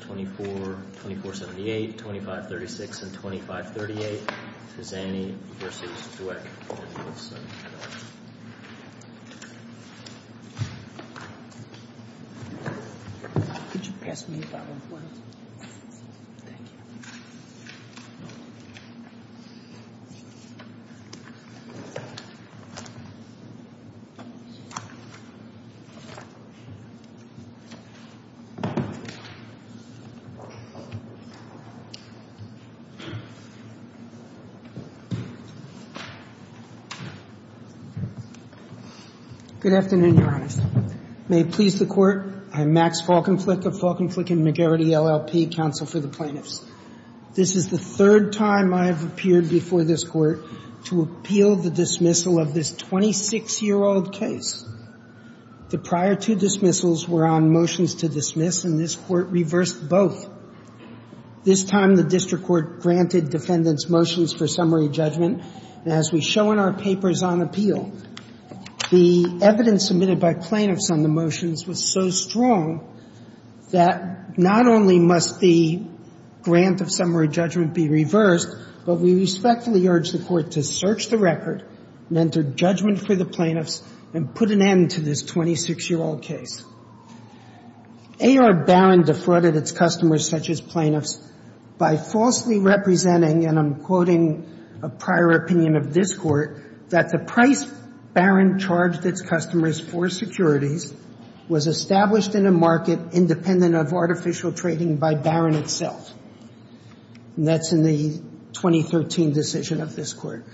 24-78, 25-36, and 25-38, Fezzani v. Dweck v. Wilson & Co. Good afternoon, Your Honors. May it please the Court, I'm Max Falkenflik of Falkenflik & McGarrity LLP, Counsel for the Plaintiffs. This is the third time I have appeared before this Court to appeal the dismissal of this 26-year-old case. The prior two dismissals were on motions to dismiss, and this Court reversed both. This time, the district court granted defendants motions for summary judgment. And as we show in our papers on appeal, the evidence submitted by plaintiffs on the motions was so strong that not only must the grant of summary judgment be reversed, but we respectfully urge the Court to search the record and enter judgment for the plaintiffs and put an end to this 26-year-old case. A.R. Barron defrauded its customers, such as plaintiffs, by falsely representing, and I'm quoting a prior opinion of this Court, that the price Barron charged its customers for securities was established in a market independent of artificial trading by Barron itself. And that's in the 2013 decision of this Court.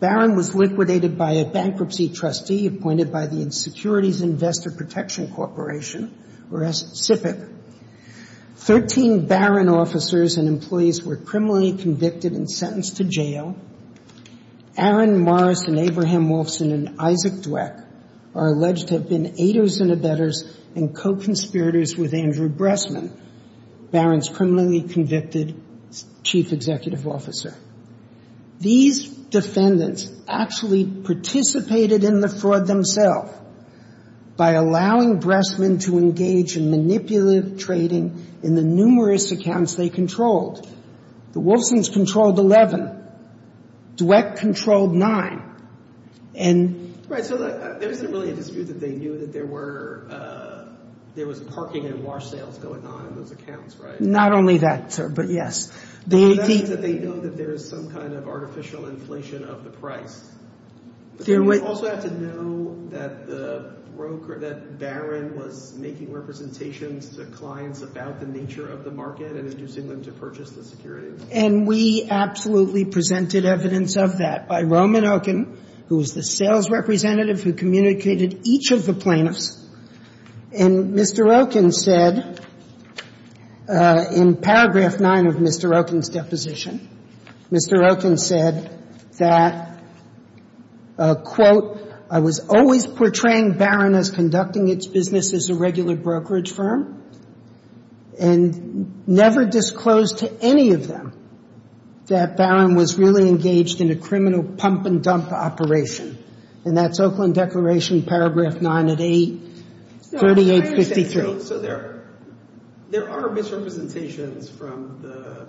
Barron was liquidated by a bankruptcy trustee appointed by the Securities Investor Protection Corporation, or SIPC. Thirteen Barron officers and employees were criminally convicted and sentenced to jail. Aaron Morris and Abraham Wolfson and Isaac Dweck are alleged to have been aiders and abettors and co-conspirators with Andrew Bressman, Barron's criminally convicted chief executive officer. These defendants actually participated in the fraud themselves by allowing Bressman to engage in manipulative trading in the numerous accounts they controlled. The Wolfsons controlled 11. Dweck controlled 9. Right, so there isn't really a dispute that they knew that there was parking and wash sales going on in those accounts, right? Not only that, sir, but yes. That means that they know that there is some kind of artificial inflation of the price. Do we also have to know that Barron was making representations to clients about the nature of the market and inducing them to purchase the securities? And we absolutely presented evidence of that by Roman Okun, who was the sales representative who communicated each of the plaintiffs. And Mr. Okun said in paragraph 9 of Mr. Okun's deposition, Mr. Okun said that, quote, I was always portraying Barron as conducting its business as a regular brokerage firm and never disclosed to any of them that Barron was really engaged in a criminal pump-and-dump operation. And that's Oakland Declaration, paragraph 9 at 8, 3853. So there are misrepresentations from the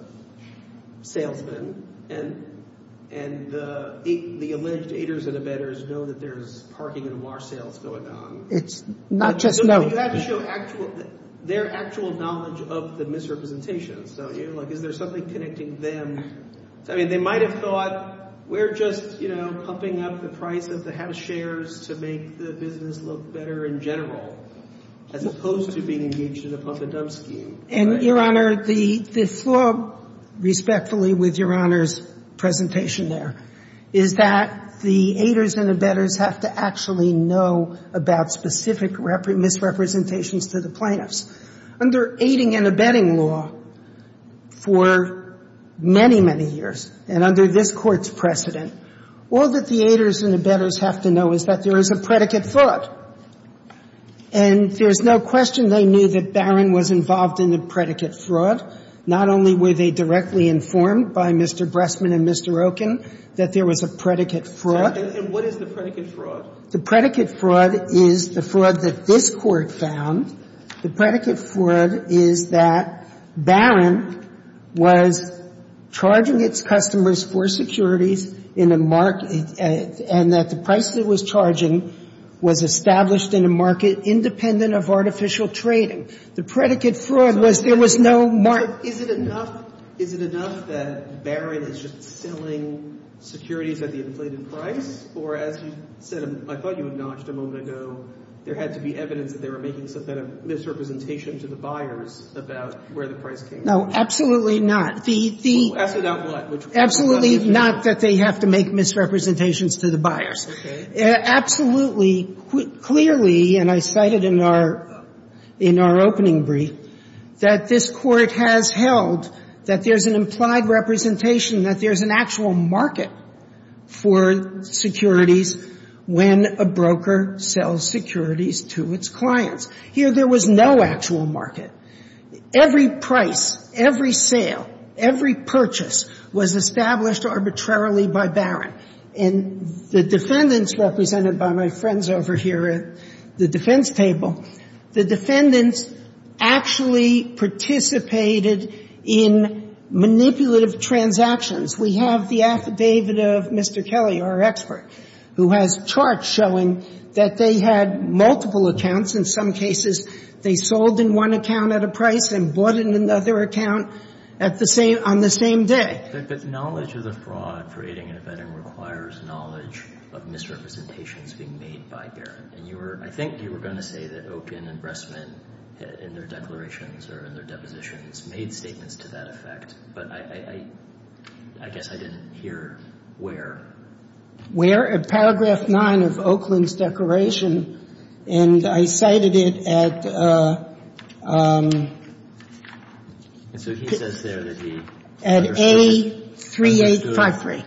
salesmen, and the alleged aiders and abettors know that there's parking and wash sales going on. It's not just known. You have to show their actual knowledge of the misrepresentations. So, you know, like, is there something connecting them? I mean, they might have thought, we're just, you know, pumping up the price of the house shares to make the business look better in general, as opposed to being engaged in a pump-and-dump scheme. And, Your Honor, the flaw, respectfully, with Your Honor's presentation there, is that the aiders and abettors have to actually know about specific misrepresentations to the plaintiffs. Under aiding and abetting law for many, many years and under this Court's precedent, all that the aiders and abettors have to know is that there is a predicate fraud. And there's no question they knew that Barron was involved in the predicate fraud. Not only were they directly informed by Mr. Bressman and Mr. Oken that there was a predicate fraud. And what is the predicate fraud? The predicate fraud is the fraud that this Court found. The predicate fraud is that Barron was charging its customers for securities in a market and that the price it was charging was established in a market independent of artificial trading. The predicate fraud was there was no market. But is it enough, is it enough that Barron is just selling securities at the inflated price? Or as you said, I thought you acknowledged a moment ago, there had to be evidence that they were making some kind of misrepresentation to the buyers about where the price came from? No, absolutely not. The, the... Well, ask about what? Absolutely not that they have to make misrepresentations to the buyers. Okay. Absolutely, clearly, and I cited in our, in our opening brief, that this Court has held that there's an implied representation, that there's an actual market for securities when a broker sells securities to its clients. Here, there was no actual market. Every price, every sale, every purchase was established arbitrarily by Barron. And the defendants, represented by my friends over here at the defense table, the defendants actually participated in manipulative transactions. We have the affidavit of Mr. Kelly, our expert, who has charts showing that they had multiple accounts. In some cases, they sold in one account at a price and bought in another account at the same, on the same day. But, but knowledge of the fraud for aiding and abetting requires knowledge of misrepresentations being made by Barron. And you were, I think you were going to say that Okun and Bressman, in their declarations or in their depositions, made statements to that effect, but I, I, I guess I didn't hear where. Where? At paragraph nine of Okun's declaration, and I cited it at... And so he says there that he understood... At A3853.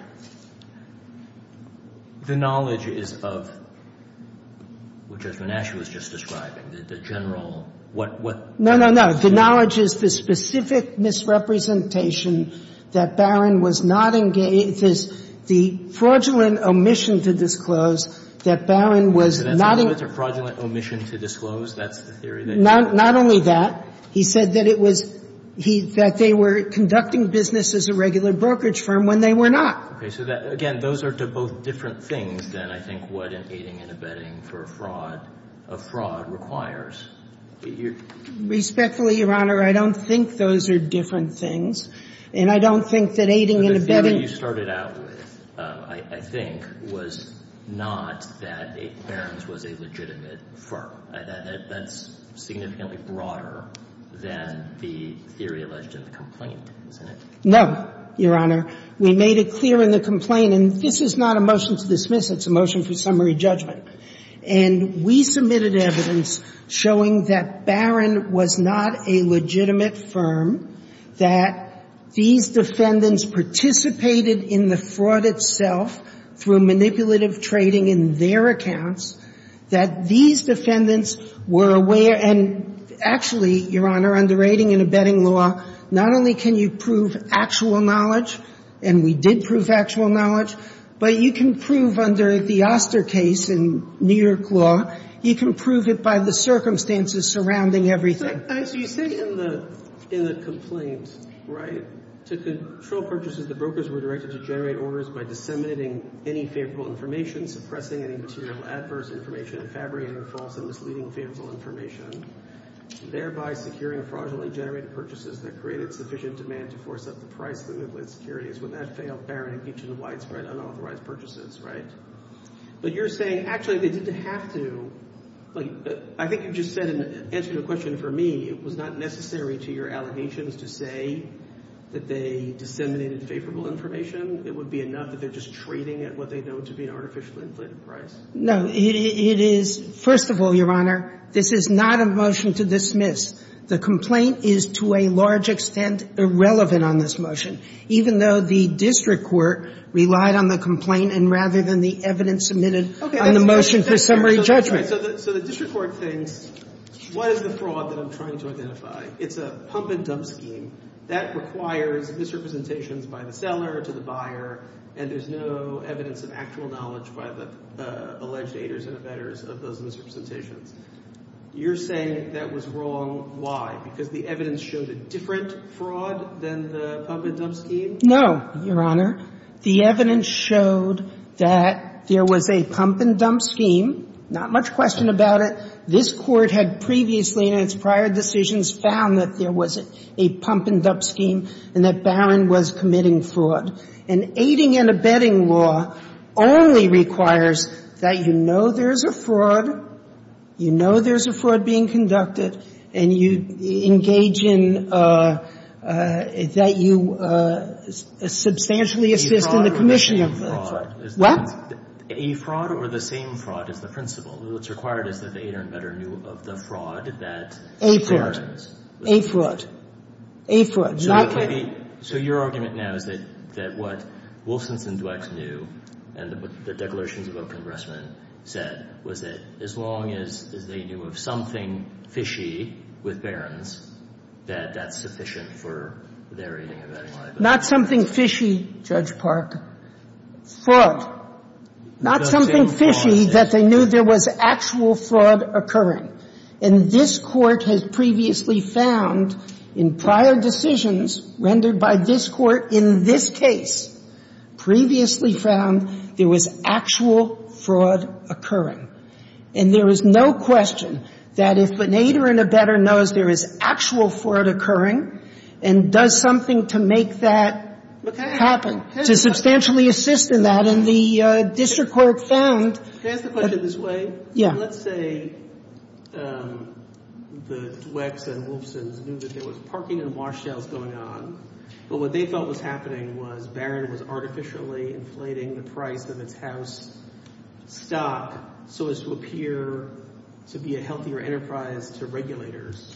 The knowledge is of, which Judge Menaschew was just describing, the general, what, what... No, no, no. The knowledge is the specific misrepresentation that Barron was not engaged this, the fraudulent omission to disclose that Barron was not engaged... So that's a fraudulent omission to disclose? That's the theory that... Not, not only that, he said that it was, he, that they were conducting business as a regular brokerage firm when they were not. Okay. So that, again, those are to both different things than I think what an aiding and abetting for a fraud, a fraud requires. Respectfully, Your Honor, I don't think those are different things, and I don't think that aiding and abetting... But the theory you started out with, I, I think, was not that Barron's was a legitimate firm. I, that, that's significantly broader than the theory alleged in the complaint, isn't it? No, Your Honor. We made it clear in the complaint, and this is not a motion to dismiss, it's a motion for summary judgment. And we submitted evidence showing that Barron was not a legitimate firm, that these defendants participated in the fraud itself through manipulative trading in their accounts, that these defendants were aware and actually, Your Honor, under aiding and abetting law, not only can you prove actual knowledge, and we did prove actual knowledge, but you can prove under the Oster case in New York law, you can prove it by the circumstances surrounding everything. So you say in the, in the complaint, right, to control purchases, the brokers were directed to generate orders by disseminating any favorable information, suppressing any material adverse information, fabricating false and misleading favorable information, thereby securing fraudulently generated purchases that created sufficient demand to force up the price limit with securities. When that failed, Barron impeached him of widespread unauthorized purchases, right? But you're saying, actually, they didn't have to. So, like, I think you just said in answering the question for me, it was not necessary to your allegations to say that they disseminated favorable information. It would be enough that they're just trading at what they know to be an artificially inflated price? No. It is, first of all, Your Honor, this is not a motion to dismiss. The complaint is to a large extent irrelevant on this motion, even though the district court relied on the complaint and rather than the evidence submitted on the motion for summary judgment. So the district court thinks, what is the fraud that I'm trying to identify? It's a pump-and-dump scheme. That requires misrepresentations by the seller to the buyer, and there's no evidence of actual knowledge by the alleged aiders and abettors of those misrepresentations. You're saying that was wrong. Why? Because the evidence showed a different fraud than the pump-and-dump scheme? No, Your Honor. The evidence showed that there was a pump-and-dump scheme, not much question about it. This Court had previously in its prior decisions found that there was a pump-and-dump scheme and that Barron was committing fraud. And aiding and abetting law only requires that you know there's a fraud, you know there's a fraud being conducted, and you engage in that you substantially assist in the commission of the fraud. What? A fraud or the same fraud is the principle. What's required is that the aider and abettor knew of the fraud that Barron was committing. A fraud. A fraud. A fraud. So your argument now is that what Wolfson's and Dweck's knew and the declarations of open arrestment said was that as long as they knew of something fishy with Barron's, that that's sufficient for their aiding and abetting liability. Not something fishy, Judge Park. Fraud. Not something fishy that they knew there was actual fraud occurring. And this Court has previously found in prior decisions rendered by this Court in this case, previously found there was actual fraud occurring. And there is no question that if an aider and abettor knows there is actual fraud occurring and does something to make that happen, to substantially assist in that, and the district court found that the. Can I ask the question this way? Yeah. Let's say that Dweck's and Wolfson's knew that there was parking and wash sales going on, but what they thought was happening was Barron was artificially inflating the price of its house stock so as to appear to be a healthier enterprise to regulators,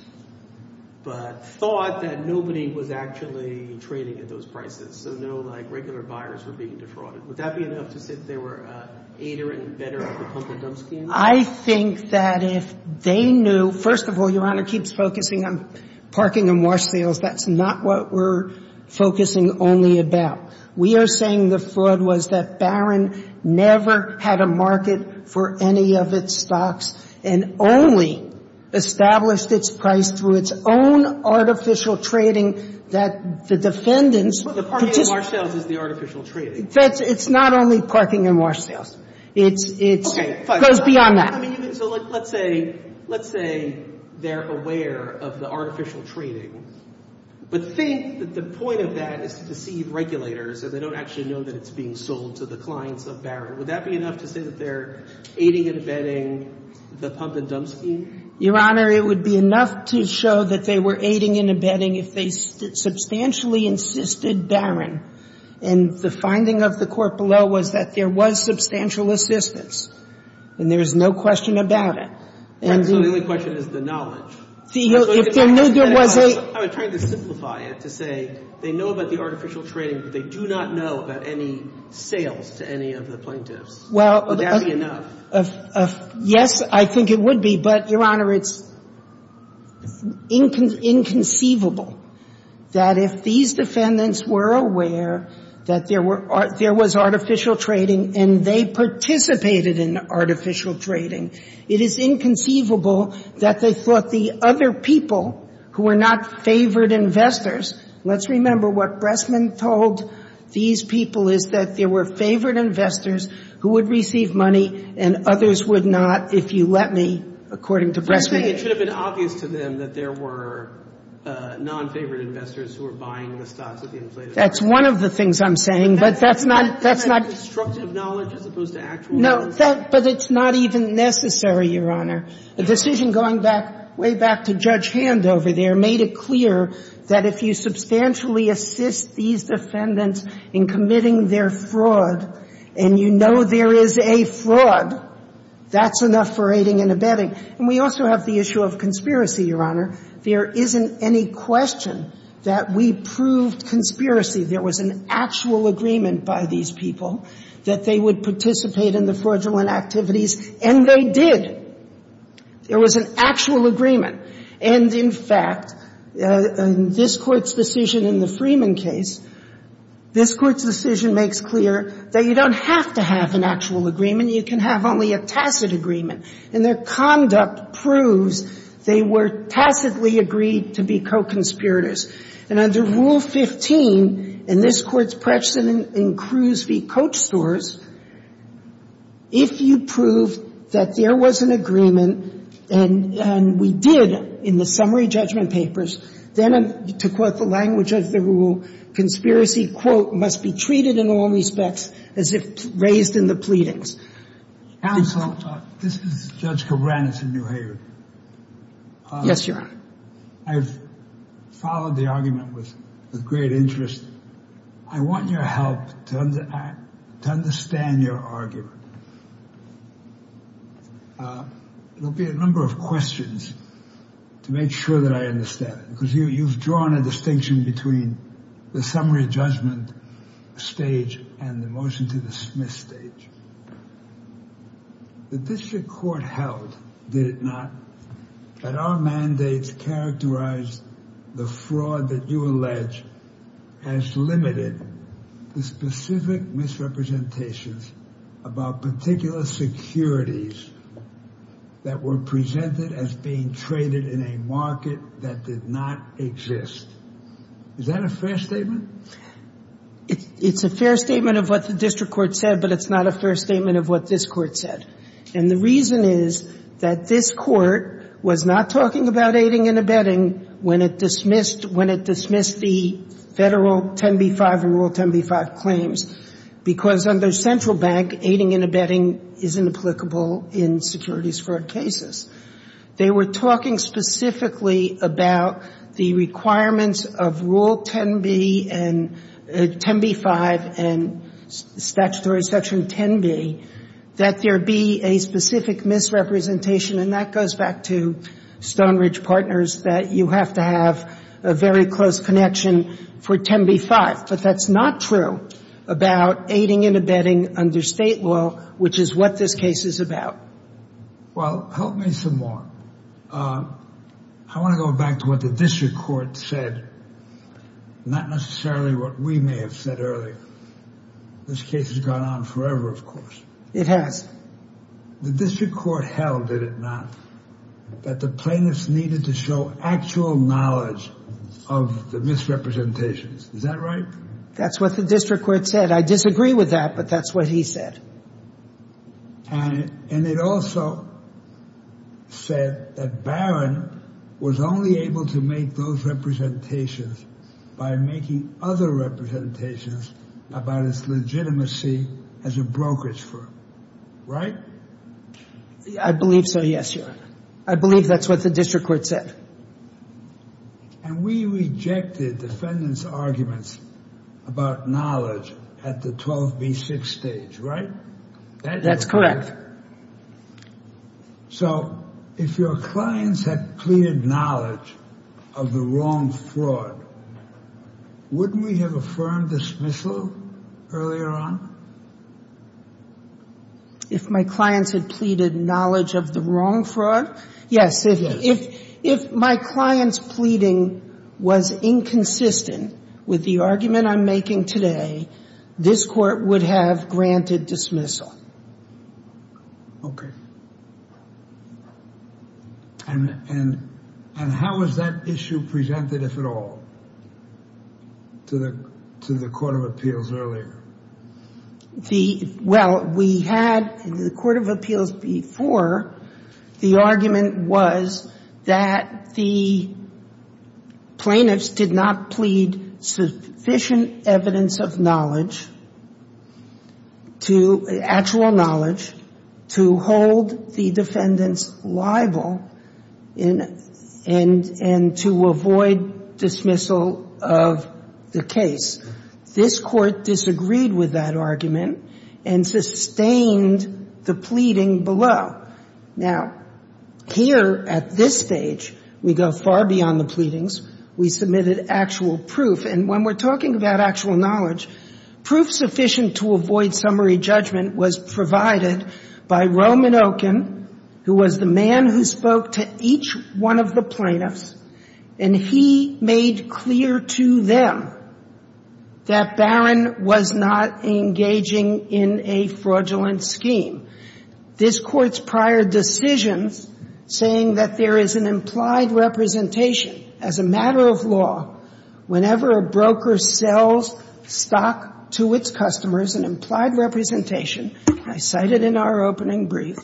but thought that nobody was actually trading at those prices. So no, like, regular buyers were being defrauded. Would that be enough to say that they were an aider and abettor of the pump and dump scheme? I think that if they knew. First of all, Your Honor keeps focusing on parking and wash sales. That's not what we're focusing only about. We are saying the fraud was that Barron never had a market for any of its stocks and only established its price through its own artificial trading that the defendants The parking and wash sales is the artificial trading. It's not only parking and wash sales. Okay. It goes beyond that. So let's say they're aware of the artificial trading, but think that the point of that is to deceive regulators so they don't actually know that it's being sold to the clients of Barron. Would that be enough to say that they're aiding and abetting the pump and dump scheme? Your Honor, it would be enough to show that they were aiding and abetting if they substantially insisted Barron. And the finding of the court below was that there was substantial assistance and there's no question about it. Right. So the only question is the knowledge. If they knew there was a I was trying to simplify it to say they know about the artificial trading, but they do not know about any sales to any of the plaintiffs. Would that be enough? Yes, I think it would be. But, Your Honor, it's inconceivable that if these defendants were aware that there was artificial trading and they participated in artificial trading, it is inconceivable that they thought the other people who were not favored investors let's remember what Bressman told these people is that there were favored investors who would receive money and others would not if you let me, according to Bressman. It should have been obvious to them that there were non-favored investors who were buying the stocks at the inflated rate. That's one of the things I'm saying, but that's not That's constructive knowledge as opposed to actual knowledge. No, but it's not even necessary, Your Honor. The decision going back way back to Judge Hand over there made it clear that if you substantially assist these defendants in committing their fraud and you know there is a fraud, that's enough for aiding and abetting. And we also have the issue of conspiracy, Your Honor. There isn't any question that we proved conspiracy. There was an actual agreement by these people that they would participate in the fraudulent activities, and they did. There was an actual agreement. And, in fact, this Court's decision in the Freeman case, this Court's decision makes clear that you don't have to have an actual agreement. You can have only a tacit agreement. And their conduct proves they were tacitly agreed to be co-conspirators. And under Rule 15, and this Court's precedent in Cruz v. Coach stores, if you prove that there was an agreement, and we did in the summary judgment papers, then to quote the language of the rule, conspiracy, quote, must be treated in all respects as if raised in the pleadings. Counsel, this is Judge Kobranitz of New Haven. Yes, Your Honor. I've followed the argument with great interest. I want your help to understand your argument. There will be a number of questions to make sure that I understand it. Because you've drawn a distinction between the summary judgment stage and the motion-to-dismiss stage. The district court held, did it not, that our mandates characterized the fraud that you allege as limited to specific misrepresentations about particular securities that were presented as being traded in a market that did not exist. Is that a fair statement? It's a fair statement of what the district court said, but it's not a fair statement of what this Court said. And the reason is that this Court was not talking about aiding and abetting when it dismissed the Federal 10b-5 and Rule 10b-5 claims, because under Central Bank, aiding and abetting is inapplicable in securities fraud cases. They were talking specifically about the requirements of Rule 10b and 10b-5 and statutory section 10b, that there be a specific misrepresentation. And that goes back to Stonebridge Partners, that you have to have a very close connection for 10b-5. But that's not true about aiding and abetting under State law, which is what this case is about. Well, help me some more. I want to go back to what the district court said, not necessarily what we may have said earlier. This case has gone on forever, of course. It has. The district court held, did it not, that the plaintiffs needed to show actual knowledge of the misrepresentations. Is that right? That's what the district court said. I disagree with that, but that's what he said. And it also said that Barron was only able to make those representations by making other representations about its legitimacy as a brokerage firm. Right? I believe so, yes, Your Honor. I believe that's what the district court said. And we rejected defendants' arguments about knowledge at the 12b-6 stage, right? That's correct. So if your clients had pleaded knowledge of the wrong fraud, wouldn't we have affirmed dismissal earlier on? If my clients had pleaded knowledge of the wrong fraud? Yes. If my clients' pleading was inconsistent with the argument I'm making today, this Court would have granted dismissal. Okay. And how was that issue presented, if at all, to the Court of Appeals earlier? Well, we had, in the Court of Appeals before, the argument was that the plaintiffs did not plead sufficient evidence of knowledge, actual knowledge, to hold the defendants liable and to avoid dismissal of the case. This Court disagreed with that argument and sustained the pleading below. Now, here at this stage, we go far beyond the pleadings. We submitted actual proof. And when we're talking about actual knowledge, proof sufficient to avoid summary judgment was provided by Roman Okun, who was the man who spoke to each one of the plaintiffs, and he made clear to them that Barron was not engaging in a fraudulent scheme. This Court's prior decisions saying that there is an implied representation as a matter of law whenever a broker sells stock to its customers, an implied representation, I cited in our opening brief,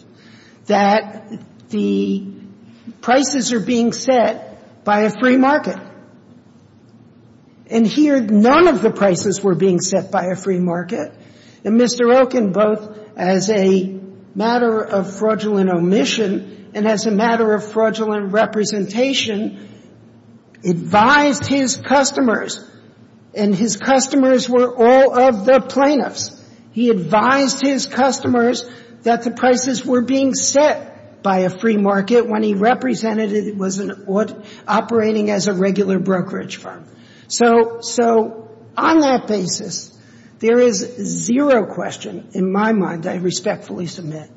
that the prices are being set by a free market. And here, none of the prices were being set by a free market. And Mr. Okun, both as a matter of fraudulent omission and as a matter of fraudulent representation, advised his customers, and his customers were all of the plaintiffs. He advised his customers that the prices were being set by a free market when he represented it was operating as a regular brokerage firm. So on that basis, there is zero question in my mind, I respectfully submit,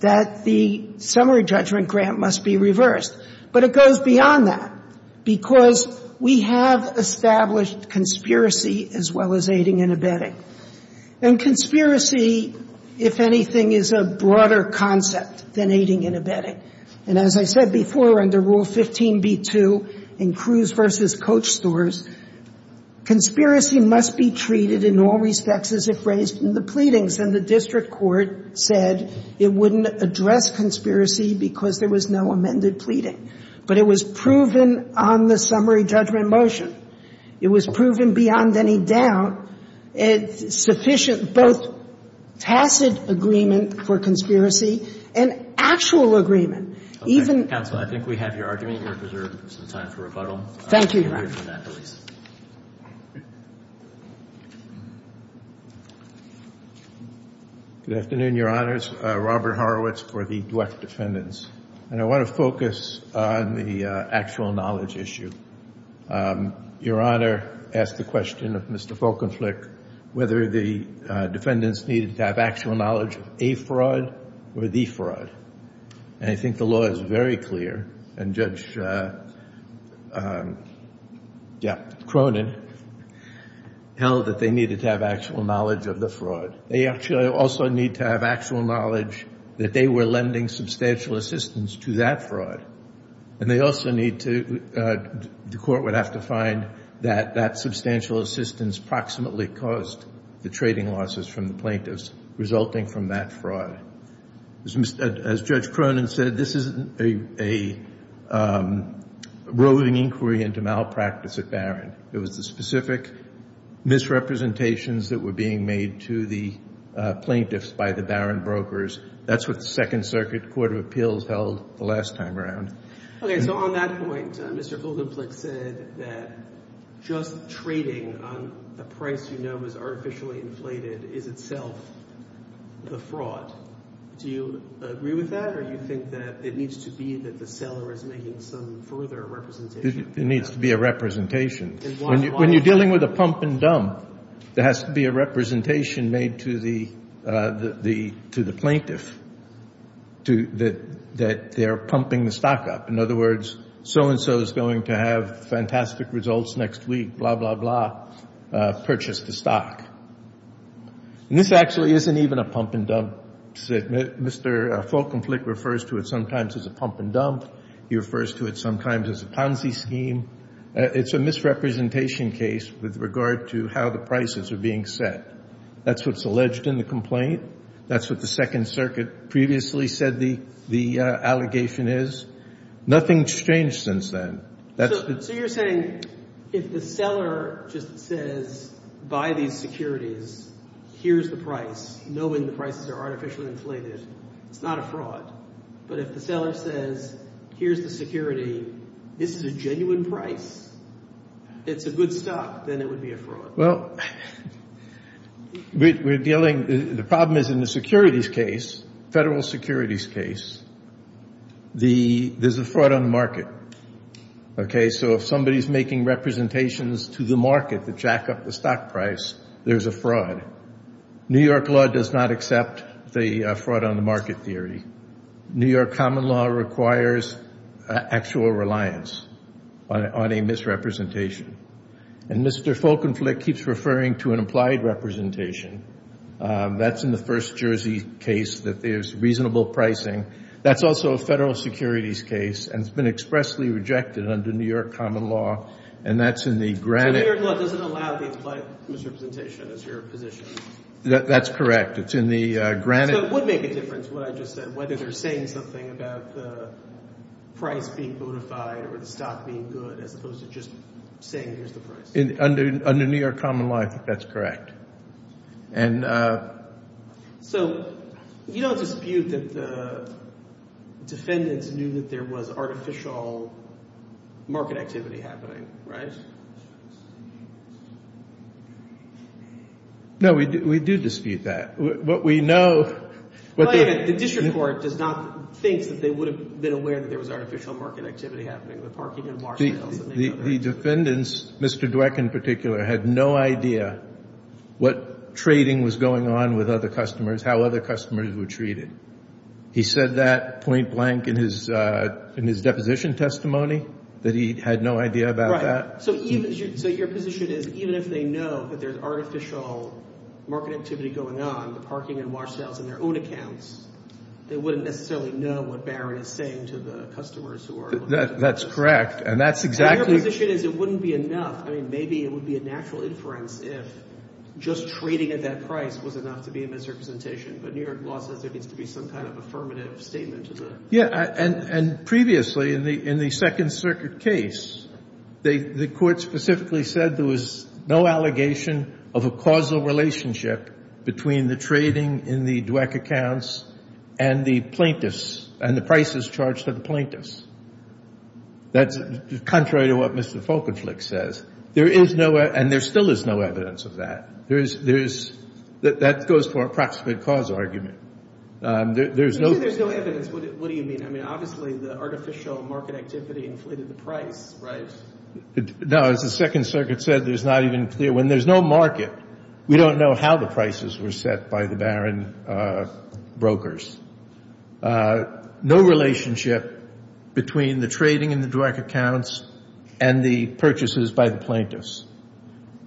that the summary judgment grant must be reversed. But it goes beyond that because we have established conspiracy as well as aiding and abetting. And conspiracy, if anything, is a broader concept than aiding and abetting. And as I said before, under Rule 15b-2 in Cruz v. Coach stores, conspiracy must be treated in all respects as if raised in the pleadings. And the district court said it wouldn't address conspiracy because there was no amended pleading. But it was proven on the summary judgment motion. It was proven beyond any doubt sufficient both tacit agreement for conspiracy and actual agreement. Even — Okay. Counsel, I think we have your argument. You are preserved some time for rebuttal. Thank you, Your Honor. We'll hear from that police. Good afternoon, Your Honors. Robert Horowitz for the Dweck defendants. And I want to focus on the actual knowledge issue. Your Honor asked the question of Mr. Folkenflik, whether the defendants needed to have actual knowledge of a fraud or the fraud. And I think the law is very clear. And Judge Cronin held that they needed to have actual knowledge of the fraud. They actually also need to have actual knowledge that they were lending substantial assistance to that fraud. And they also need to — the court would have to find that that substantial assistance proximately caused the trading losses from the plaintiffs resulting from that fraud. As Judge Cronin said, this isn't a roving inquiry into malpractice at Barron. It was the specific misrepresentations that were being made to the plaintiffs by the Barron brokers. That's what the Second Circuit Court of Appeals held the last time around. Okay. So on that point, Mr. Folkenflik said that just trading on a price you know is artificially inflated is itself the fraud. Do you agree with that or do you think that it needs to be that the seller is making some further representation? It needs to be a representation. When you're dealing with a pump-and-dump, there has to be a representation made to the plaintiff that they're pumping the stock up. In other words, so-and-so is going to have fantastic results next week, blah, blah, blah, purchase the stock. And this actually isn't even a pump-and-dump. Mr. Folkenflik refers to it sometimes as a pump-and-dump. He refers to it sometimes as a Ponzi scheme. It's a misrepresentation case with regard to how the prices are being set. That's what's alleged in the complaint. That's what the Second Circuit previously said the allegation is. Nothing's changed since then. So you're saying if the seller just says, buy these securities, here's the price, knowing the prices are artificially inflated, it's not a fraud. But if the seller says, here's the security, this is a genuine price, it's a good stock, then it would be a fraud. Well, we're dealing – the problem is in the securities case, federal securities case, there's a fraud on the market. Okay, so if somebody's making representations to the market to jack up the stock price, there's a fraud. New York law does not accept the fraud on the market theory. New York common law requires actual reliance on a misrepresentation. And Mr. Folkenflik keeps referring to an implied representation. That's in the first Jersey case that there's reasonable pricing. That's also a federal securities case, and it's been expressly rejected under New York common law, and that's in the granted – New York law doesn't allow the implied misrepresentation as your position. That's correct. It's in the granted – So it would make a difference, what I just said, whether they're saying something about the price being modified or the stock being good as opposed to just saying here's the price. Under New York common law, I think that's correct. So you don't dispute that the defendants knew that there was artificial market activity happening, right? No, we do dispute that. What we know – The district court does not think that they would have been aware that there was artificial market activity happening. The defendants, Mr. Dweck in particular, had no idea what trading was going on with other customers, how other customers were treated. He said that point blank in his deposition testimony, that he had no idea about that. Right. So your position is even if they know that there's artificial market activity going on, the parking and wash sales in their own accounts, they wouldn't necessarily know what Barron is saying to the customers who are – That's correct. And that's exactly – Your position is it wouldn't be enough. I mean, maybe it would be a natural inference if just trading at that price was enough to be a misrepresentation. But New York law says there needs to be some kind of affirmative statement to the – That's contrary to what Mr. Folkenflik says. There is no – and there still is no evidence of that. There is – that goes for approximate cause argument. There's no – You say there's no evidence. What do you mean? I mean, obviously, the artificial market activity inflated the price, right? No, as the Second Circuit said, there's not even clear – when there's no market, we don't know how the prices were set by the Barron brokers. No relationship between the trading in the direct accounts and the purchases by the plaintiffs.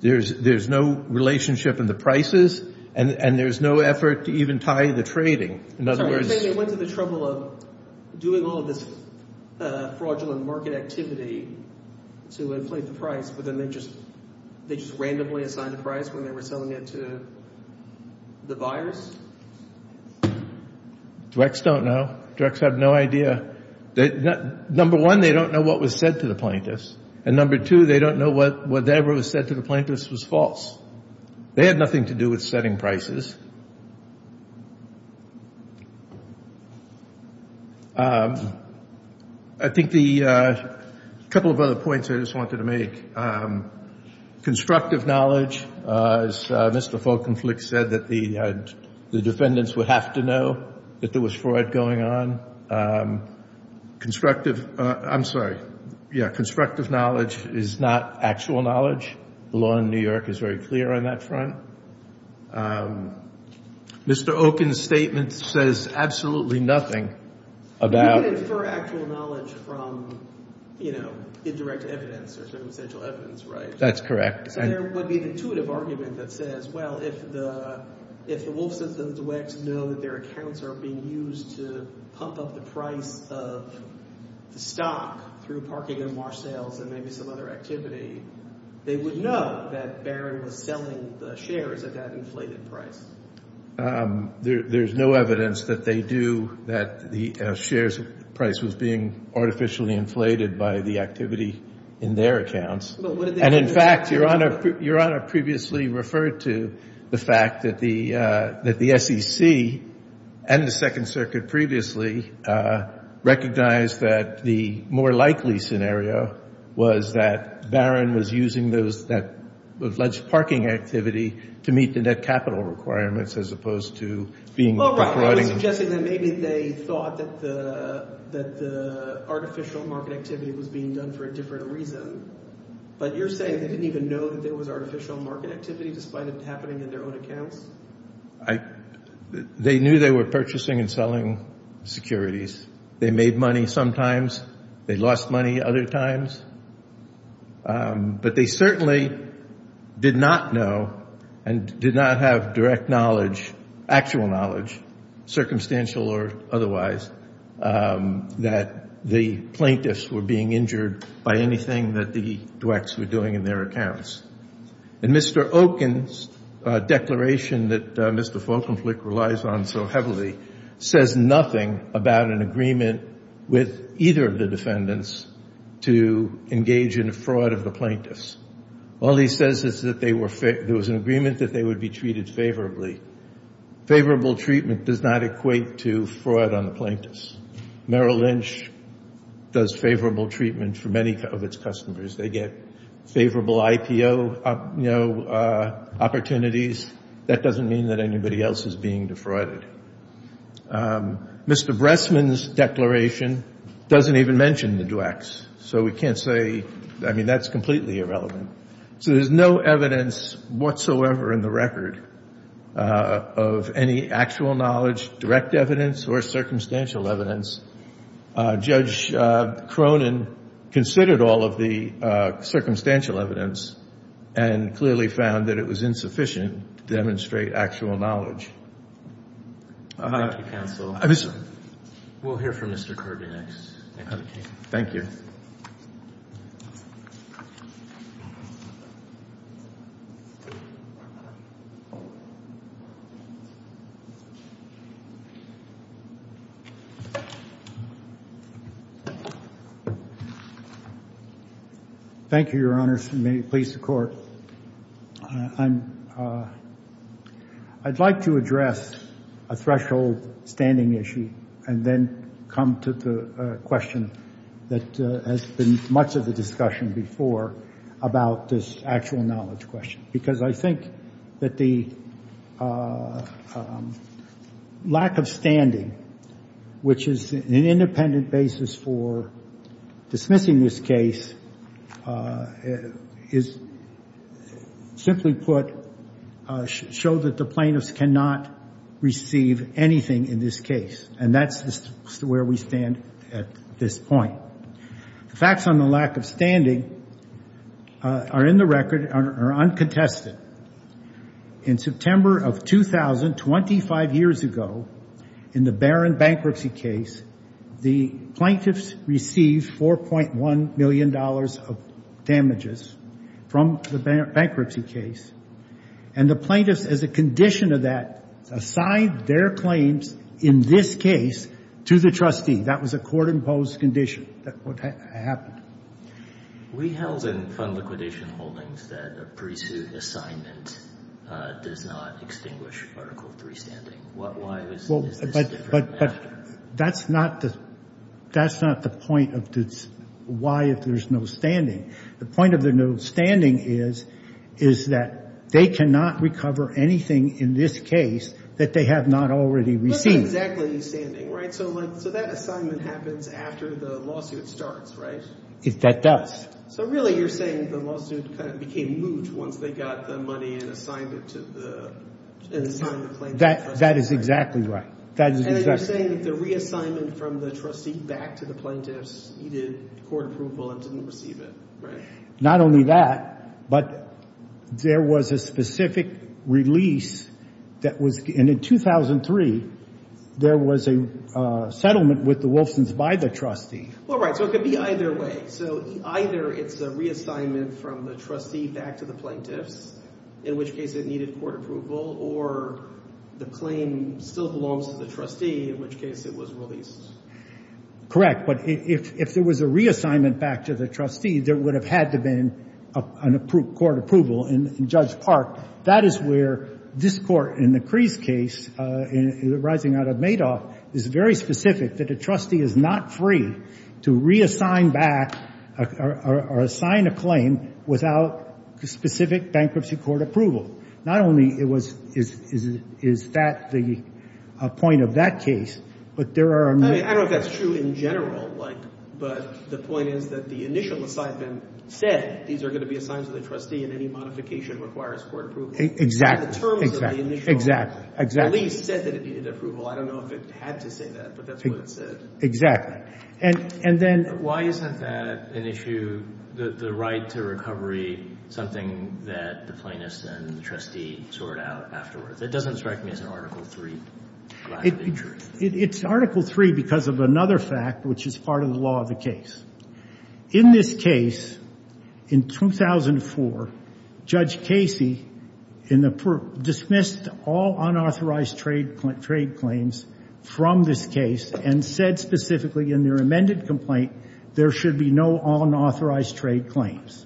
There's no relationship in the prices and there's no effort to even tie the trading. In other words –– doing all of this fraudulent market activity to inflate the price, but then they just – they just randomly assigned a price when they were selling it to the buyers? DREX don't know. DREX have no idea. Number one, they don't know what was said to the plaintiffs. And number two, they don't know whatever was said to the plaintiffs was false. They had nothing to do with setting prices. I think the – a couple of other points I just wanted to make. Constructive knowledge, as Mr. Folkenflik said, that the defendants would have to know that there was fraud going on. Constructive – I'm sorry. Yeah, constructive knowledge is not actual knowledge. The law in New York is very clear on that front. Mr. Okun's statement says absolutely nothing about – You can infer actual knowledge from, you know, indirect evidence or some essential evidence, right? That's correct. So there would be an intuitive argument that says, well, if the Wolfsons and the Dwecks know that their accounts are being used to pump up the price of the stock through parking and wash sales and maybe some other activity, they would know that Barron was selling the shares at that inflated price. There's no evidence that they do – that the shares price was being artificially inflated by the activity in their accounts. And, in fact, Your Honor previously referred to the fact that the SEC and the Second Circuit previously recognized that the more likely scenario was that Barron was using that alleged parking activity to meet the net capital requirements as opposed to being – You're suggesting that maybe they thought that the artificial market activity was being done for a different reason. But you're saying they didn't even know that there was artificial market activity despite it happening in their own accounts? They knew they were purchasing and selling securities. They made money sometimes. They lost money other times. But they certainly did not know and did not have direct knowledge, actual knowledge, circumstantial or otherwise, that the plaintiffs were being injured by anything that the Dwecks were doing in their accounts. And Mr. Okin's declaration that Mr. Falkenflik relies on so heavily says nothing about an agreement with either of the defendants to engage in a fraud of the plaintiffs. All he says is that they were – there was an agreement that they would be treated favorably. Favorable treatment does not equate to fraud on the plaintiffs. Merrill Lynch does favorable treatment for many of its customers. They get favorable IPO opportunities. That doesn't mean that anybody else is being defrauded. Mr. Bressman's declaration doesn't even mention the Dwecks. So we can't say – I mean, that's completely irrelevant. So there's no evidence whatsoever in the record of any actual knowledge, direct evidence or circumstantial evidence. Judge Cronin considered all of the circumstantial evidence and clearly found that it was insufficient to demonstrate actual knowledge. Thank you, counsel. We'll hear from Mr. Kirby next. Thank you. Thank you, Your Honors, and may it please the Court. I'd like to address a threshold standing issue and then come to the question that has been much of the discussion before about this actual knowledge question. Because I think that the lack of standing, which is an independent basis for dismissing this case, is simply put – showed that the plaintiffs cannot receive anything in this case. And that's where we stand at this point. The facts on the lack of standing are in the record, are uncontested. In September of 2000, 25 years ago, in the Barron bankruptcy case, the plaintiffs received $4.1 million of damages from the bankruptcy case. And the plaintiffs, as a condition of that, assigned their claims in this case to the trustee. That was a court-imposed condition. That's what happened. We held in fund liquidation holdings that a pre-suit assignment does not extinguish Article III standing. Why is this different than after? That's not the point of the why if there's no standing. The point of the no standing is that they cannot recover anything in this case that they have not already received. So that assignment happens after the lawsuit starts, right? That does. So really you're saying the lawsuit kind of became moot once they got the money and assigned it to the plaintiff? That is exactly right. And you're saying that the reassignment from the trustee back to the plaintiffs needed court approval and didn't receive it, right? Not only that, but there was a specific release that was – in 2003, there was a settlement with the Wolfsons by the trustee. All right. So it could be either way. So either it's a reassignment from the trustee back to the plaintiffs, in which case it needed court approval, or the claim still belongs to the trustee, in which case it was released. Correct. But if there was a reassignment back to the trustee, there would have had to have been court approval in Judge Park. That is where this court in the Crease case, rising out of Madoff, is very specific that a trustee is not free to reassign back or assign a claim without specific bankruptcy court approval. Not only is that the point of that case, but there are – I don't know if that's true in general, but the point is that the initial assignment said these are going to be assigned to the trustee and any modification requires court approval. Exactly. The terms of the initial release said that it needed approval. I don't know if it had to say that, but that's what it said. Exactly. And then – Why isn't that an issue, the right to recovery, something that the plaintiffs and the trustee sort out afterwards? It doesn't strike me as an Article III lack of interest. It's Article III because of another fact, which is part of the law of the case. In this case, in 2004, Judge Casey dismissed all unauthorized trade claims from this case and said specifically in their amended complaint there should be no unauthorized trade claims.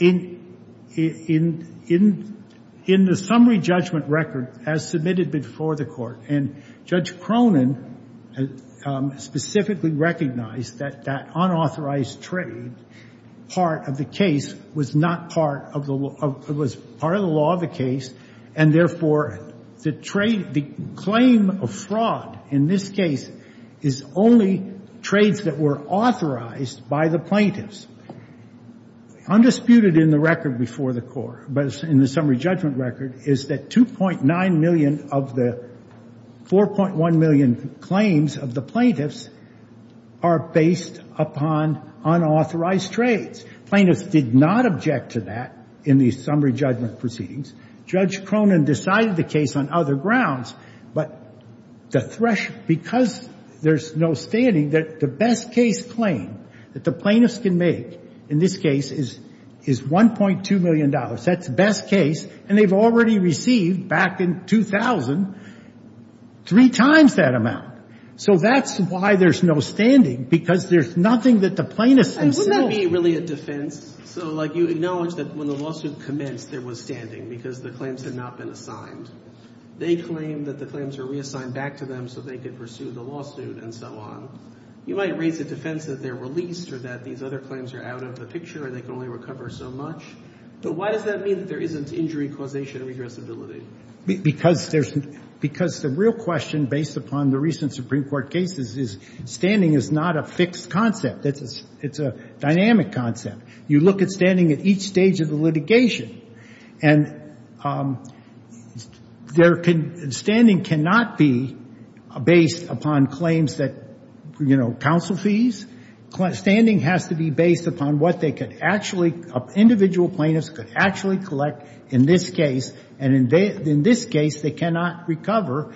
In the summary judgment record as submitted before the court, and Judge Cronin specifically recognized that that unauthorized trade part of the case was not part of the – was part of the law of the case, and therefore the claim of fraud in this case is only trades that were authorized by the plaintiffs. Undisputed in the record before the court, but in the summary judgment record, is that 2.9 million of the 4.1 million claims of the plaintiffs are based upon unauthorized trades. Plaintiffs did not object to that in the summary judgment proceedings. Judge Cronin decided the case on other grounds, but the – because there's no standing, the best case claim that the plaintiffs can make in this case is $1.2 million. That's the best case, and they've already received, back in 2000, three times that amount. So that's why there's no standing, because there's nothing that the plaintiffs themselves – And wouldn't that be really a defense? So, like, you acknowledge that when the lawsuit commenced there was standing because the claims had not been assigned. They claim that the claims were reassigned back to them so they could pursue the lawsuit and so on. You might raise a defense that they're released or that these other claims are out of the picture and they can only recover so much. But why does that mean that there isn't injury causation and regressibility? Because there's – because the real question, based upon the recent Supreme Court cases, is standing is not a fixed concept. It's a dynamic concept. You look at standing at each stage of the litigation, and there can – standing cannot be based upon claims that, you know, counsel fees. Standing has to be based upon what they could actually – individual plaintiffs could actually collect in this case, and in this case they cannot recover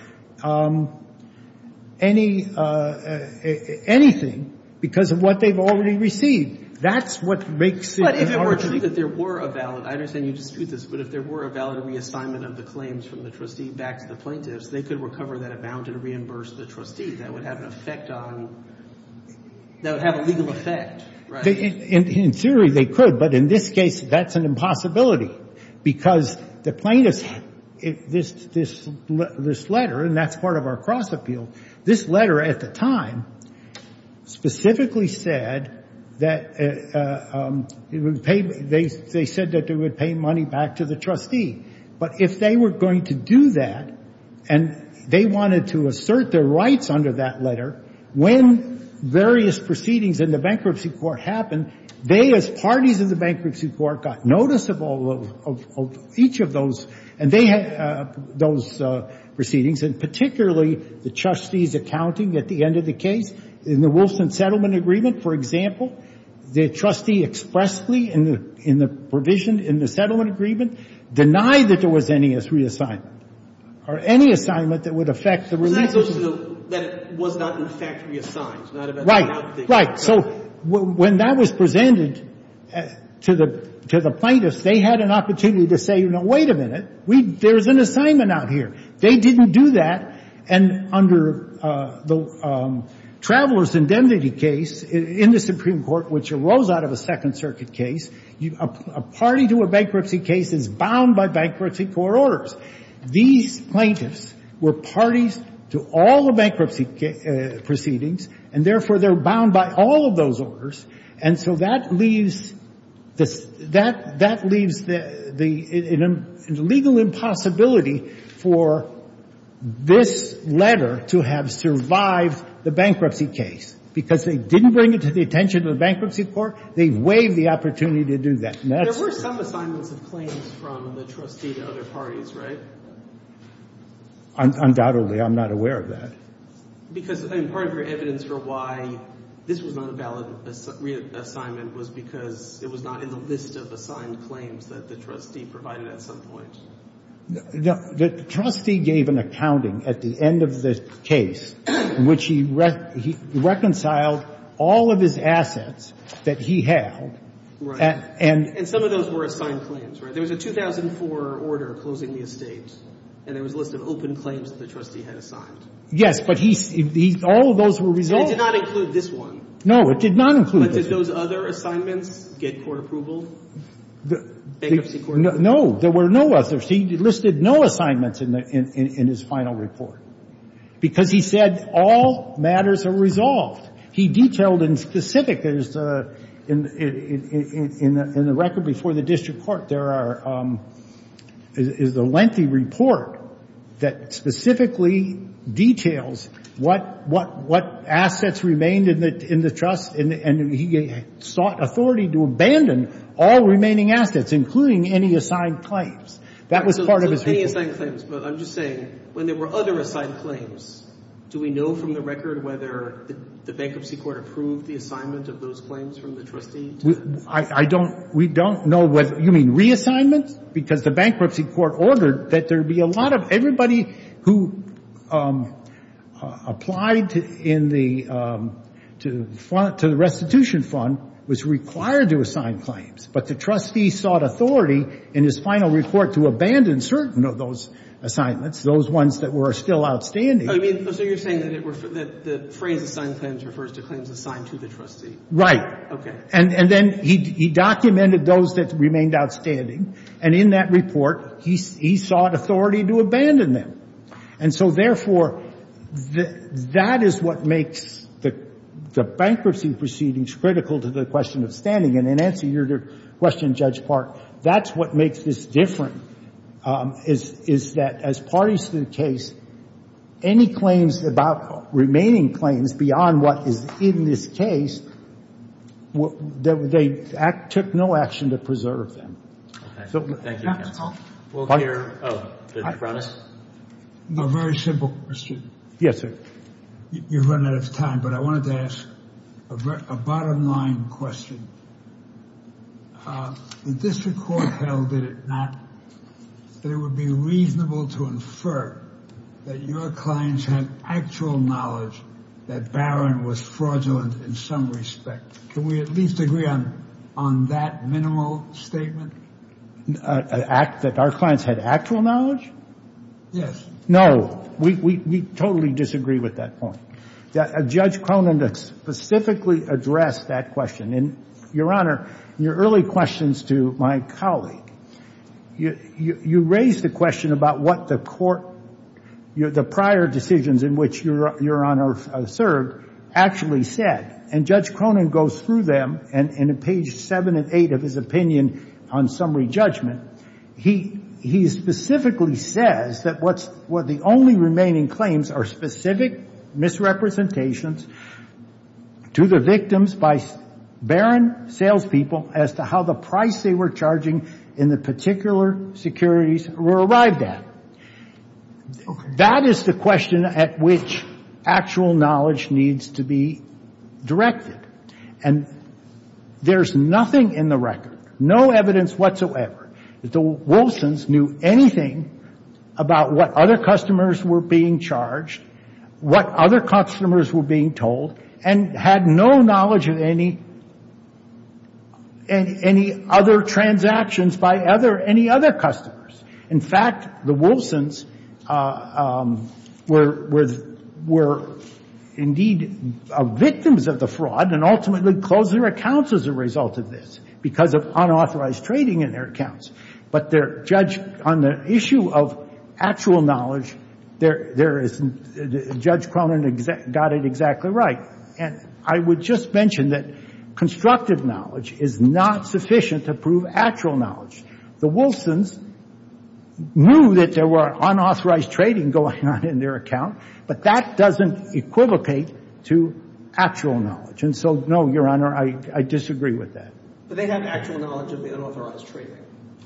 anything because of what they've already received. That's what makes it – But if it were true that there were a valid – I understand you dispute this, but if there were a valid reassignment of the claims from the trustee back to the plaintiffs, they could recover that amount and reimburse the trustee. That would have an effect on – that would have a legal effect, right? In theory they could, but in this case that's an impossibility because the plaintiffs – this letter, and that's part of our cross-appeal, this letter at the time specifically said that it would pay – they said that they would pay money back to the trustee. But if they were going to do that, and they wanted to assert their rights under that letter, when various proceedings in the bankruptcy court happened, they as parties in the bankruptcy court got notice of all – of each of those, and they had those proceedings, and particularly the trustees accounting at the end of the case in the Wilson settlement agreement. For example, the trustee expressly in the provision in the settlement agreement denied that there was any reassignment, or any assignment that would affect the release of the – That was not in fact reassigned. Right, right. So when that was presented to the plaintiffs, they had an opportunity to say, you know, wait a minute, there's an assignment out here. They didn't do that, and under the Traveler's Indemnity case in the Supreme Court, which arose out of a Second Circuit case, a party to a bankruptcy case is bound by bankruptcy court orders. These plaintiffs were parties to all the bankruptcy proceedings, and therefore they're bound by all of those orders, and so that leaves – that leaves the – a legal impossibility for this letter to have survived the bankruptcy case, because they didn't bring it to the attention of the bankruptcy court. They waived the opportunity to do that. There were some assignments of claims from the trustee to other parties, right? Undoubtedly. I'm not aware of that. Because part of your evidence for why this was not a valid reassignment was because it was not in the list of assigned claims that the trustee provided at some point. The trustee gave an accounting at the end of the case in which he reconciled all of his assets that he held. And some of those were assigned claims, right? There was a 2004 order closing the estate, and there was a list of open claims that the trustee had assigned. Yes, but he – all of those were resolved. And it did not include this one. No, it did not include this one. But did those other assignments get court approval, bankruptcy court approval? No. There were no others. He listed no assignments in his final report because he said all matters are resolved. He detailed in specific – in the record before the district court, there is a lengthy report that specifically details what assets remained in the trust, and he sought authority to abandon all remaining assets, including any assigned claims. That was part of his report. So any assigned claims. But I'm just saying, when there were other assigned claims, do we know from the record whether the bankruptcy court approved the assignment of those claims from the trustee? I don't – we don't know whether – you mean reassignment? Because the bankruptcy court ordered that there be a lot of – everybody who applied in the – to the restitution fund was required to assign claims. But the trustee sought authority in his final report to abandon certain of those assignments, those ones that were still outstanding. So you're saying that the phrase assigned claims refers to claims assigned to the trustee? Right. Okay. And then he documented those that remained outstanding, and in that report he sought authority to abandon them. And so therefore, that is what makes the bankruptcy proceedings critical to the question of standing. And in answer to your question, Judge Park, that's what makes this different, is that as parties to the case, any claims about remaining claims beyond what is in this case, they took no action to preserve them. Okay. Thank you, counsel. We'll hear from Mr. Browning. A very simple question. Yes, sir. You've run out of time, but I wanted to ask a bottom-line question. The district court held that it would be reasonable to infer that your clients had actual knowledge that Barron was fraudulent in some respect. Can we at least agree on that minimal statement? That our clients had actual knowledge? Yes. No. We totally disagree with that point. Judge Cronin specifically addressed that question. And, Your Honor, in your early questions to my colleague, you raised the question about what the court, the prior decisions in which Your Honor served, actually said. And Judge Cronin goes through them, and in page 7 and 8 of his opinion on summary judgment, he specifically says that what the only remaining claims are specific misrepresentations to the victims by Barron salespeople as to how the price they were charging in the particular securities were arrived at. That is the question at which actual knowledge needs to be directed. And there's nothing in the record, no evidence whatsoever, that the Wolfsons knew anything about what other customers were being charged, what other customers were being told, and had no knowledge of any other transactions by any other customers. In fact, the Wolfsons were indeed victims of the fraud and ultimately closed their accounts as a result of this because of unauthorized trading in their accounts. But on the issue of actual knowledge, Judge Cronin got it exactly right. And I would just mention that constructive knowledge is not sufficient to prove actual knowledge. The Wolfsons knew that there were unauthorized trading going on in their account, but that doesn't equivocate to actual knowledge. And so, no, Your Honor, I disagree with that. But they have actual knowledge of the unauthorized trading.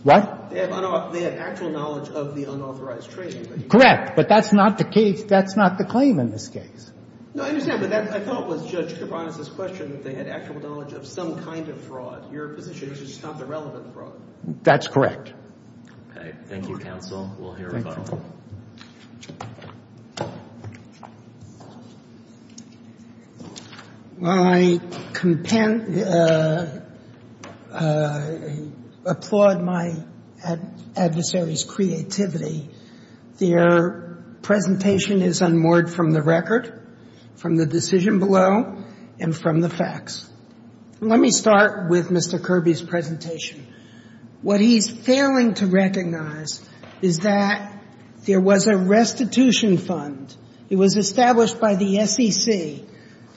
What? They have actual knowledge of the unauthorized trading. Correct. But that's not the case. That's not the claim in this case. No, I understand. But I thought it was Judge Cronin's question that they had actual knowledge of some kind of fraud. Your position is just not the relevant fraud. That's correct. Thank you, counsel. We'll hear from you. While I applaud my adversary's creativity, their presentation is unmoored from the record, from the decision below, and from the facts. Let me start with Mr. Kirby's presentation. What he's failing to recognize is that there was a restitution fund. It was established by the SEC,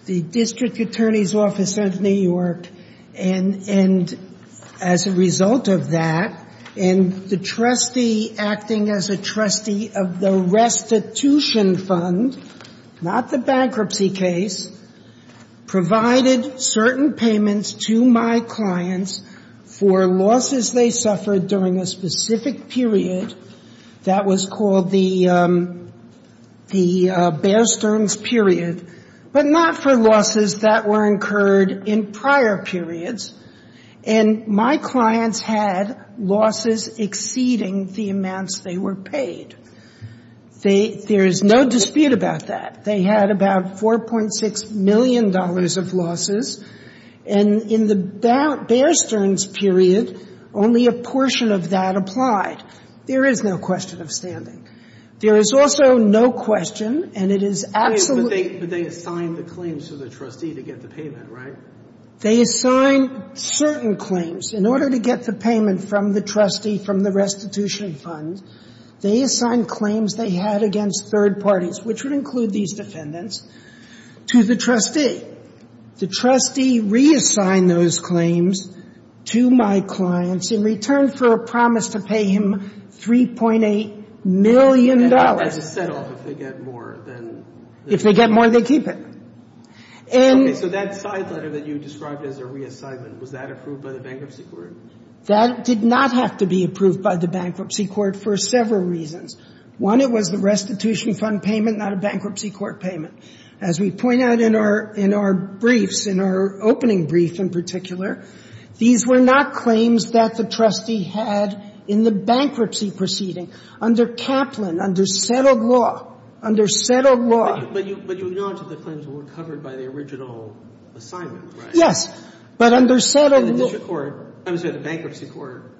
the District Attorney's Office of New York. And as a result of that, and the trustee acting as a trustee of the restitution fund, not the bankruptcy case, provided certain payments to my clients for losses they suffered during a specific period. That was called the Bear Stearns period, but not for losses that were incurred in prior periods. And my clients had losses exceeding the amounts they were paid. They — there is no dispute about that. They had about $4.6 million of losses. And in the Bear Stearns period, only a portion of that applied. There is no question of standing. There is also no question, and it is absolutely — But they assigned the claims to the trustee to get the payment, right? They assigned certain claims. In order to get the payment from the trustee from the restitution fund, they assigned claims they had against third parties, which would include these defendants, to the trustee. The trustee reassigned those claims to my clients in return for a promise to pay him $3.8 million. And that was a set-off. If they get more, then — If they get more, they keep it. And — So that side letter that you described as a reassignment, was that approved by the bankruptcy court? That did not have to be approved by the bankruptcy court for several reasons. One, it was the restitution fund payment, not a bankruptcy court payment. As we point out in our — in our briefs, in our opening brief in particular, these were not claims that the trustee had in the bankruptcy proceeding under Kaplan, under settled law, under settled law. But you acknowledge that the claims were covered by the original assignment, right? Yes. But under settled law — And the district court — I'm sorry, the bankruptcy court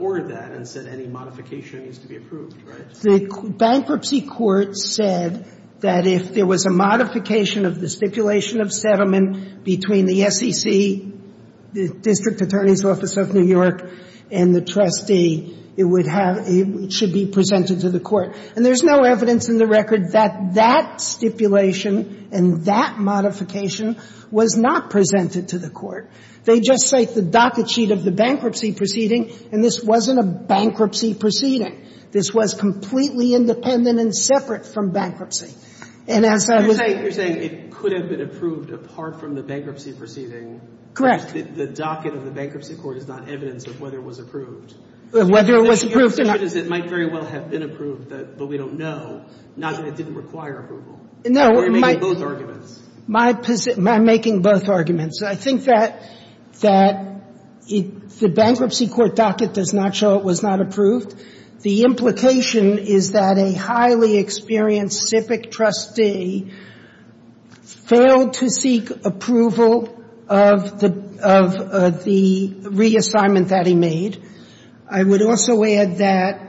ordered that and said any modification needs to be approved, right? The bankruptcy court said that if there was a modification of the stipulation of settlement between the SEC, the District Attorney's Office of New York, and the trustee, it would have — it should be presented to the court. And there's no evidence in the record that that stipulation and that modification was not presented to the court. They just cite the docket sheet of the bankruptcy proceeding, and this wasn't a bankruptcy proceeding. This was completely independent and separate from bankruptcy. And as I was — You're saying it could have been approved apart from the bankruptcy proceeding. Correct. The docket of the bankruptcy court is not evidence of whether it was approved. Whether it was approved — But we don't know. Not that it didn't require approval. No, my — My — I'm making both arguments. I think that — that the bankruptcy court docket does not show it was not approved. The implication is that a highly experienced civic trustee failed to seek approval of the — of the reassignment that he made. I would also add that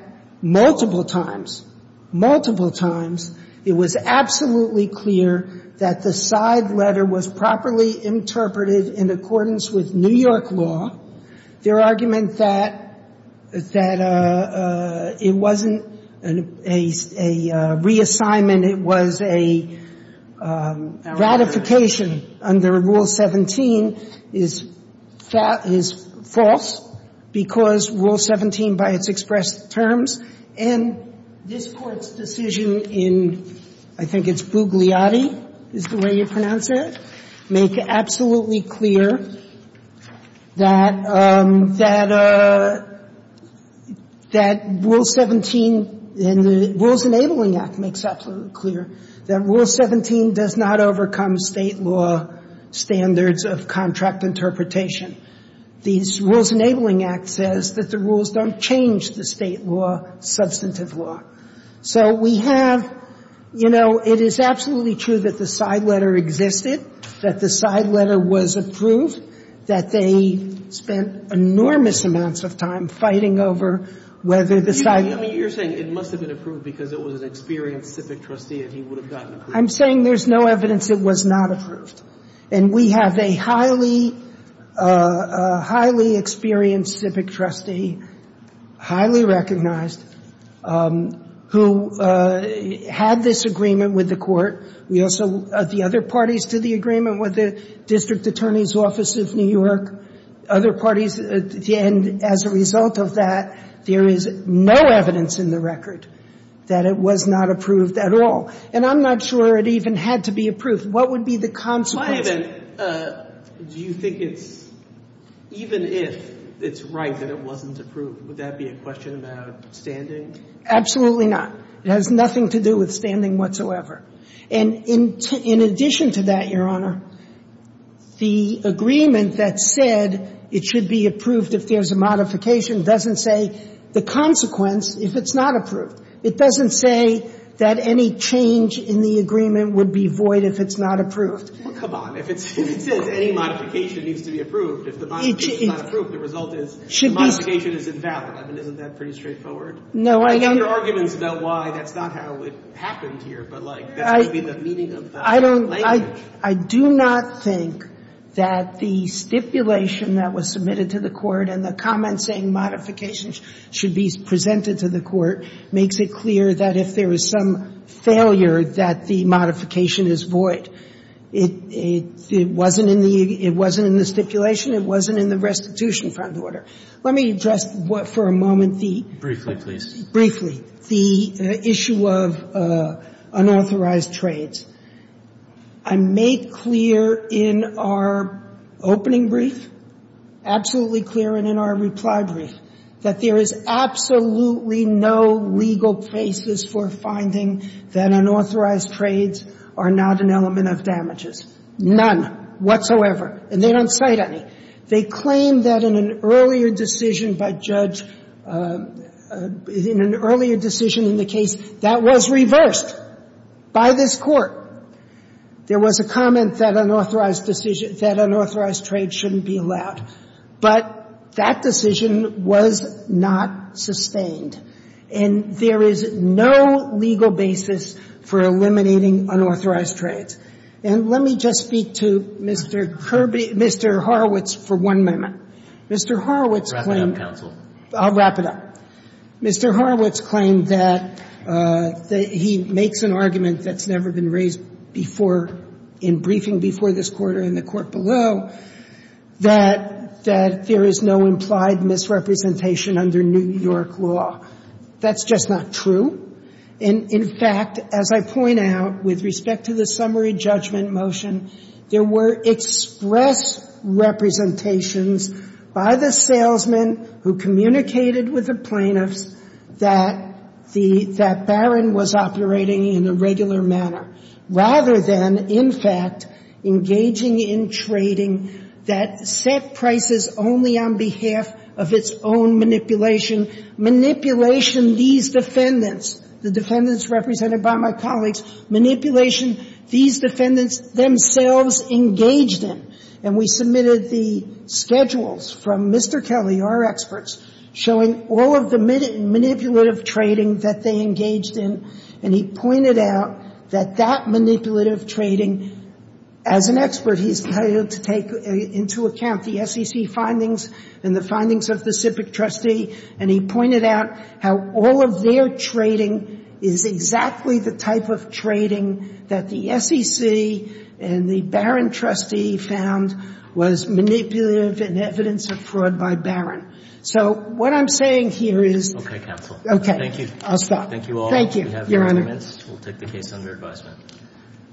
multiple times, multiple times, it was absolutely clear that the side letter was properly interpreted in accordance with New York law. Their argument that — that it wasn't a — a reassignment, it was a ratification under Rule 17, is — is false because Rule 17, by its expressed terms, and this Court's decision in — I think it's Bugliotti is the way you pronounce it — make absolutely clear that — that — that Rule 17 and the Rules Enabling Act makes absolutely clear that Rule 17 does not overcome State law standards of contract interpretation. The Rules Enabling Act says that the rules don't change the State law substantive law. So we have — you know, it is absolutely true that the side letter existed, that the side letter was approved, that they spent enormous amounts of time fighting over whether the side — I mean, you're saying it must have been approved because it was an experienced civic trustee and he would have gotten approval. I'm saying there's no evidence it was not approved. And we have a highly — a highly experienced civic trustee, highly recognized, who had this agreement with the Court. We also — the other parties to the agreement with the District Attorney's Office of New York, other parties, and as a result of that, there is no evidence in the record that it was not approved at all. And I'm not sure it even had to be approved. What would be the consequences? My event, do you think it's — even if it's right that it wasn't approved, would that be a question about standing? Absolutely not. It has nothing to do with standing whatsoever. And in addition to that, Your Honor, the agreement that said it should be approved if there's a modification doesn't say the consequence if it's not approved. It doesn't say that any change in the agreement would be void if it's not approved. Well, come on. If it says any modification needs to be approved, if the modification is not approved, the result is the modification is invalid. I mean, isn't that pretty straightforward? No, I don't — But there are arguments about why that's not how it happened here, but, like, that would be the meaning of the language. I do not think that the stipulation that was submitted to the Court and the comment saying modifications should be presented to the Court makes it clear that if there is some failure, that the modification is void. It wasn't in the stipulation. It wasn't in the restitution front order. Let me address for a moment the — Briefly, please. Briefly, the issue of unauthorized trades. I made clear in our opening brief, absolutely clear in our reply brief, that there is absolutely no legal basis for finding that unauthorized trades are not an element of damages, none whatsoever. And they don't cite any. They claim that in an earlier decision by Judge — in an earlier decision in the case, that was reversed by this Court. There was a comment that unauthorized trade shouldn't be allowed. But that decision was not sustained. And there is no legal basis for eliminating unauthorized trades. And let me just speak to Mr. Kirby — Mr. Horowitz for one moment. Mr. Horowitz — Wrap it up, counsel. I'll wrap it up. Mr. Horowitz claimed that he makes an argument that's never been raised before in briefing before this Court or in the Court below, that there is no implied misrepresentation under New York law. That's just not true. And, in fact, as I point out, with respect to the summary judgment motion, there were express representations by the salesman who communicated with the plaintiffs that the — that Barron was operating in a regular manner, rather than, in fact, engaging in trading that set prices only on behalf of its own manipulation, manipulation these defendants, the defendants represented by my colleagues, manipulation these defendants themselves engaged in. And we submitted the schedules from Mr. Kelly, our experts, showing all of the manipulative trading that they engaged in. And he pointed out that that manipulative trading, as an expert, he's entitled to take into account the SEC findings and the findings of the SIPC trustee, and he pointed out how all of their trading is exactly the type of trading that the SEC and the Barron trustee found was manipulative in evidence of fraud by Barron. So what I'm saying here is — Okay, counsel. Okay. Thank you. I'll stop. Thank you all. Thank you. We have no arguments. We'll take the case under advisement.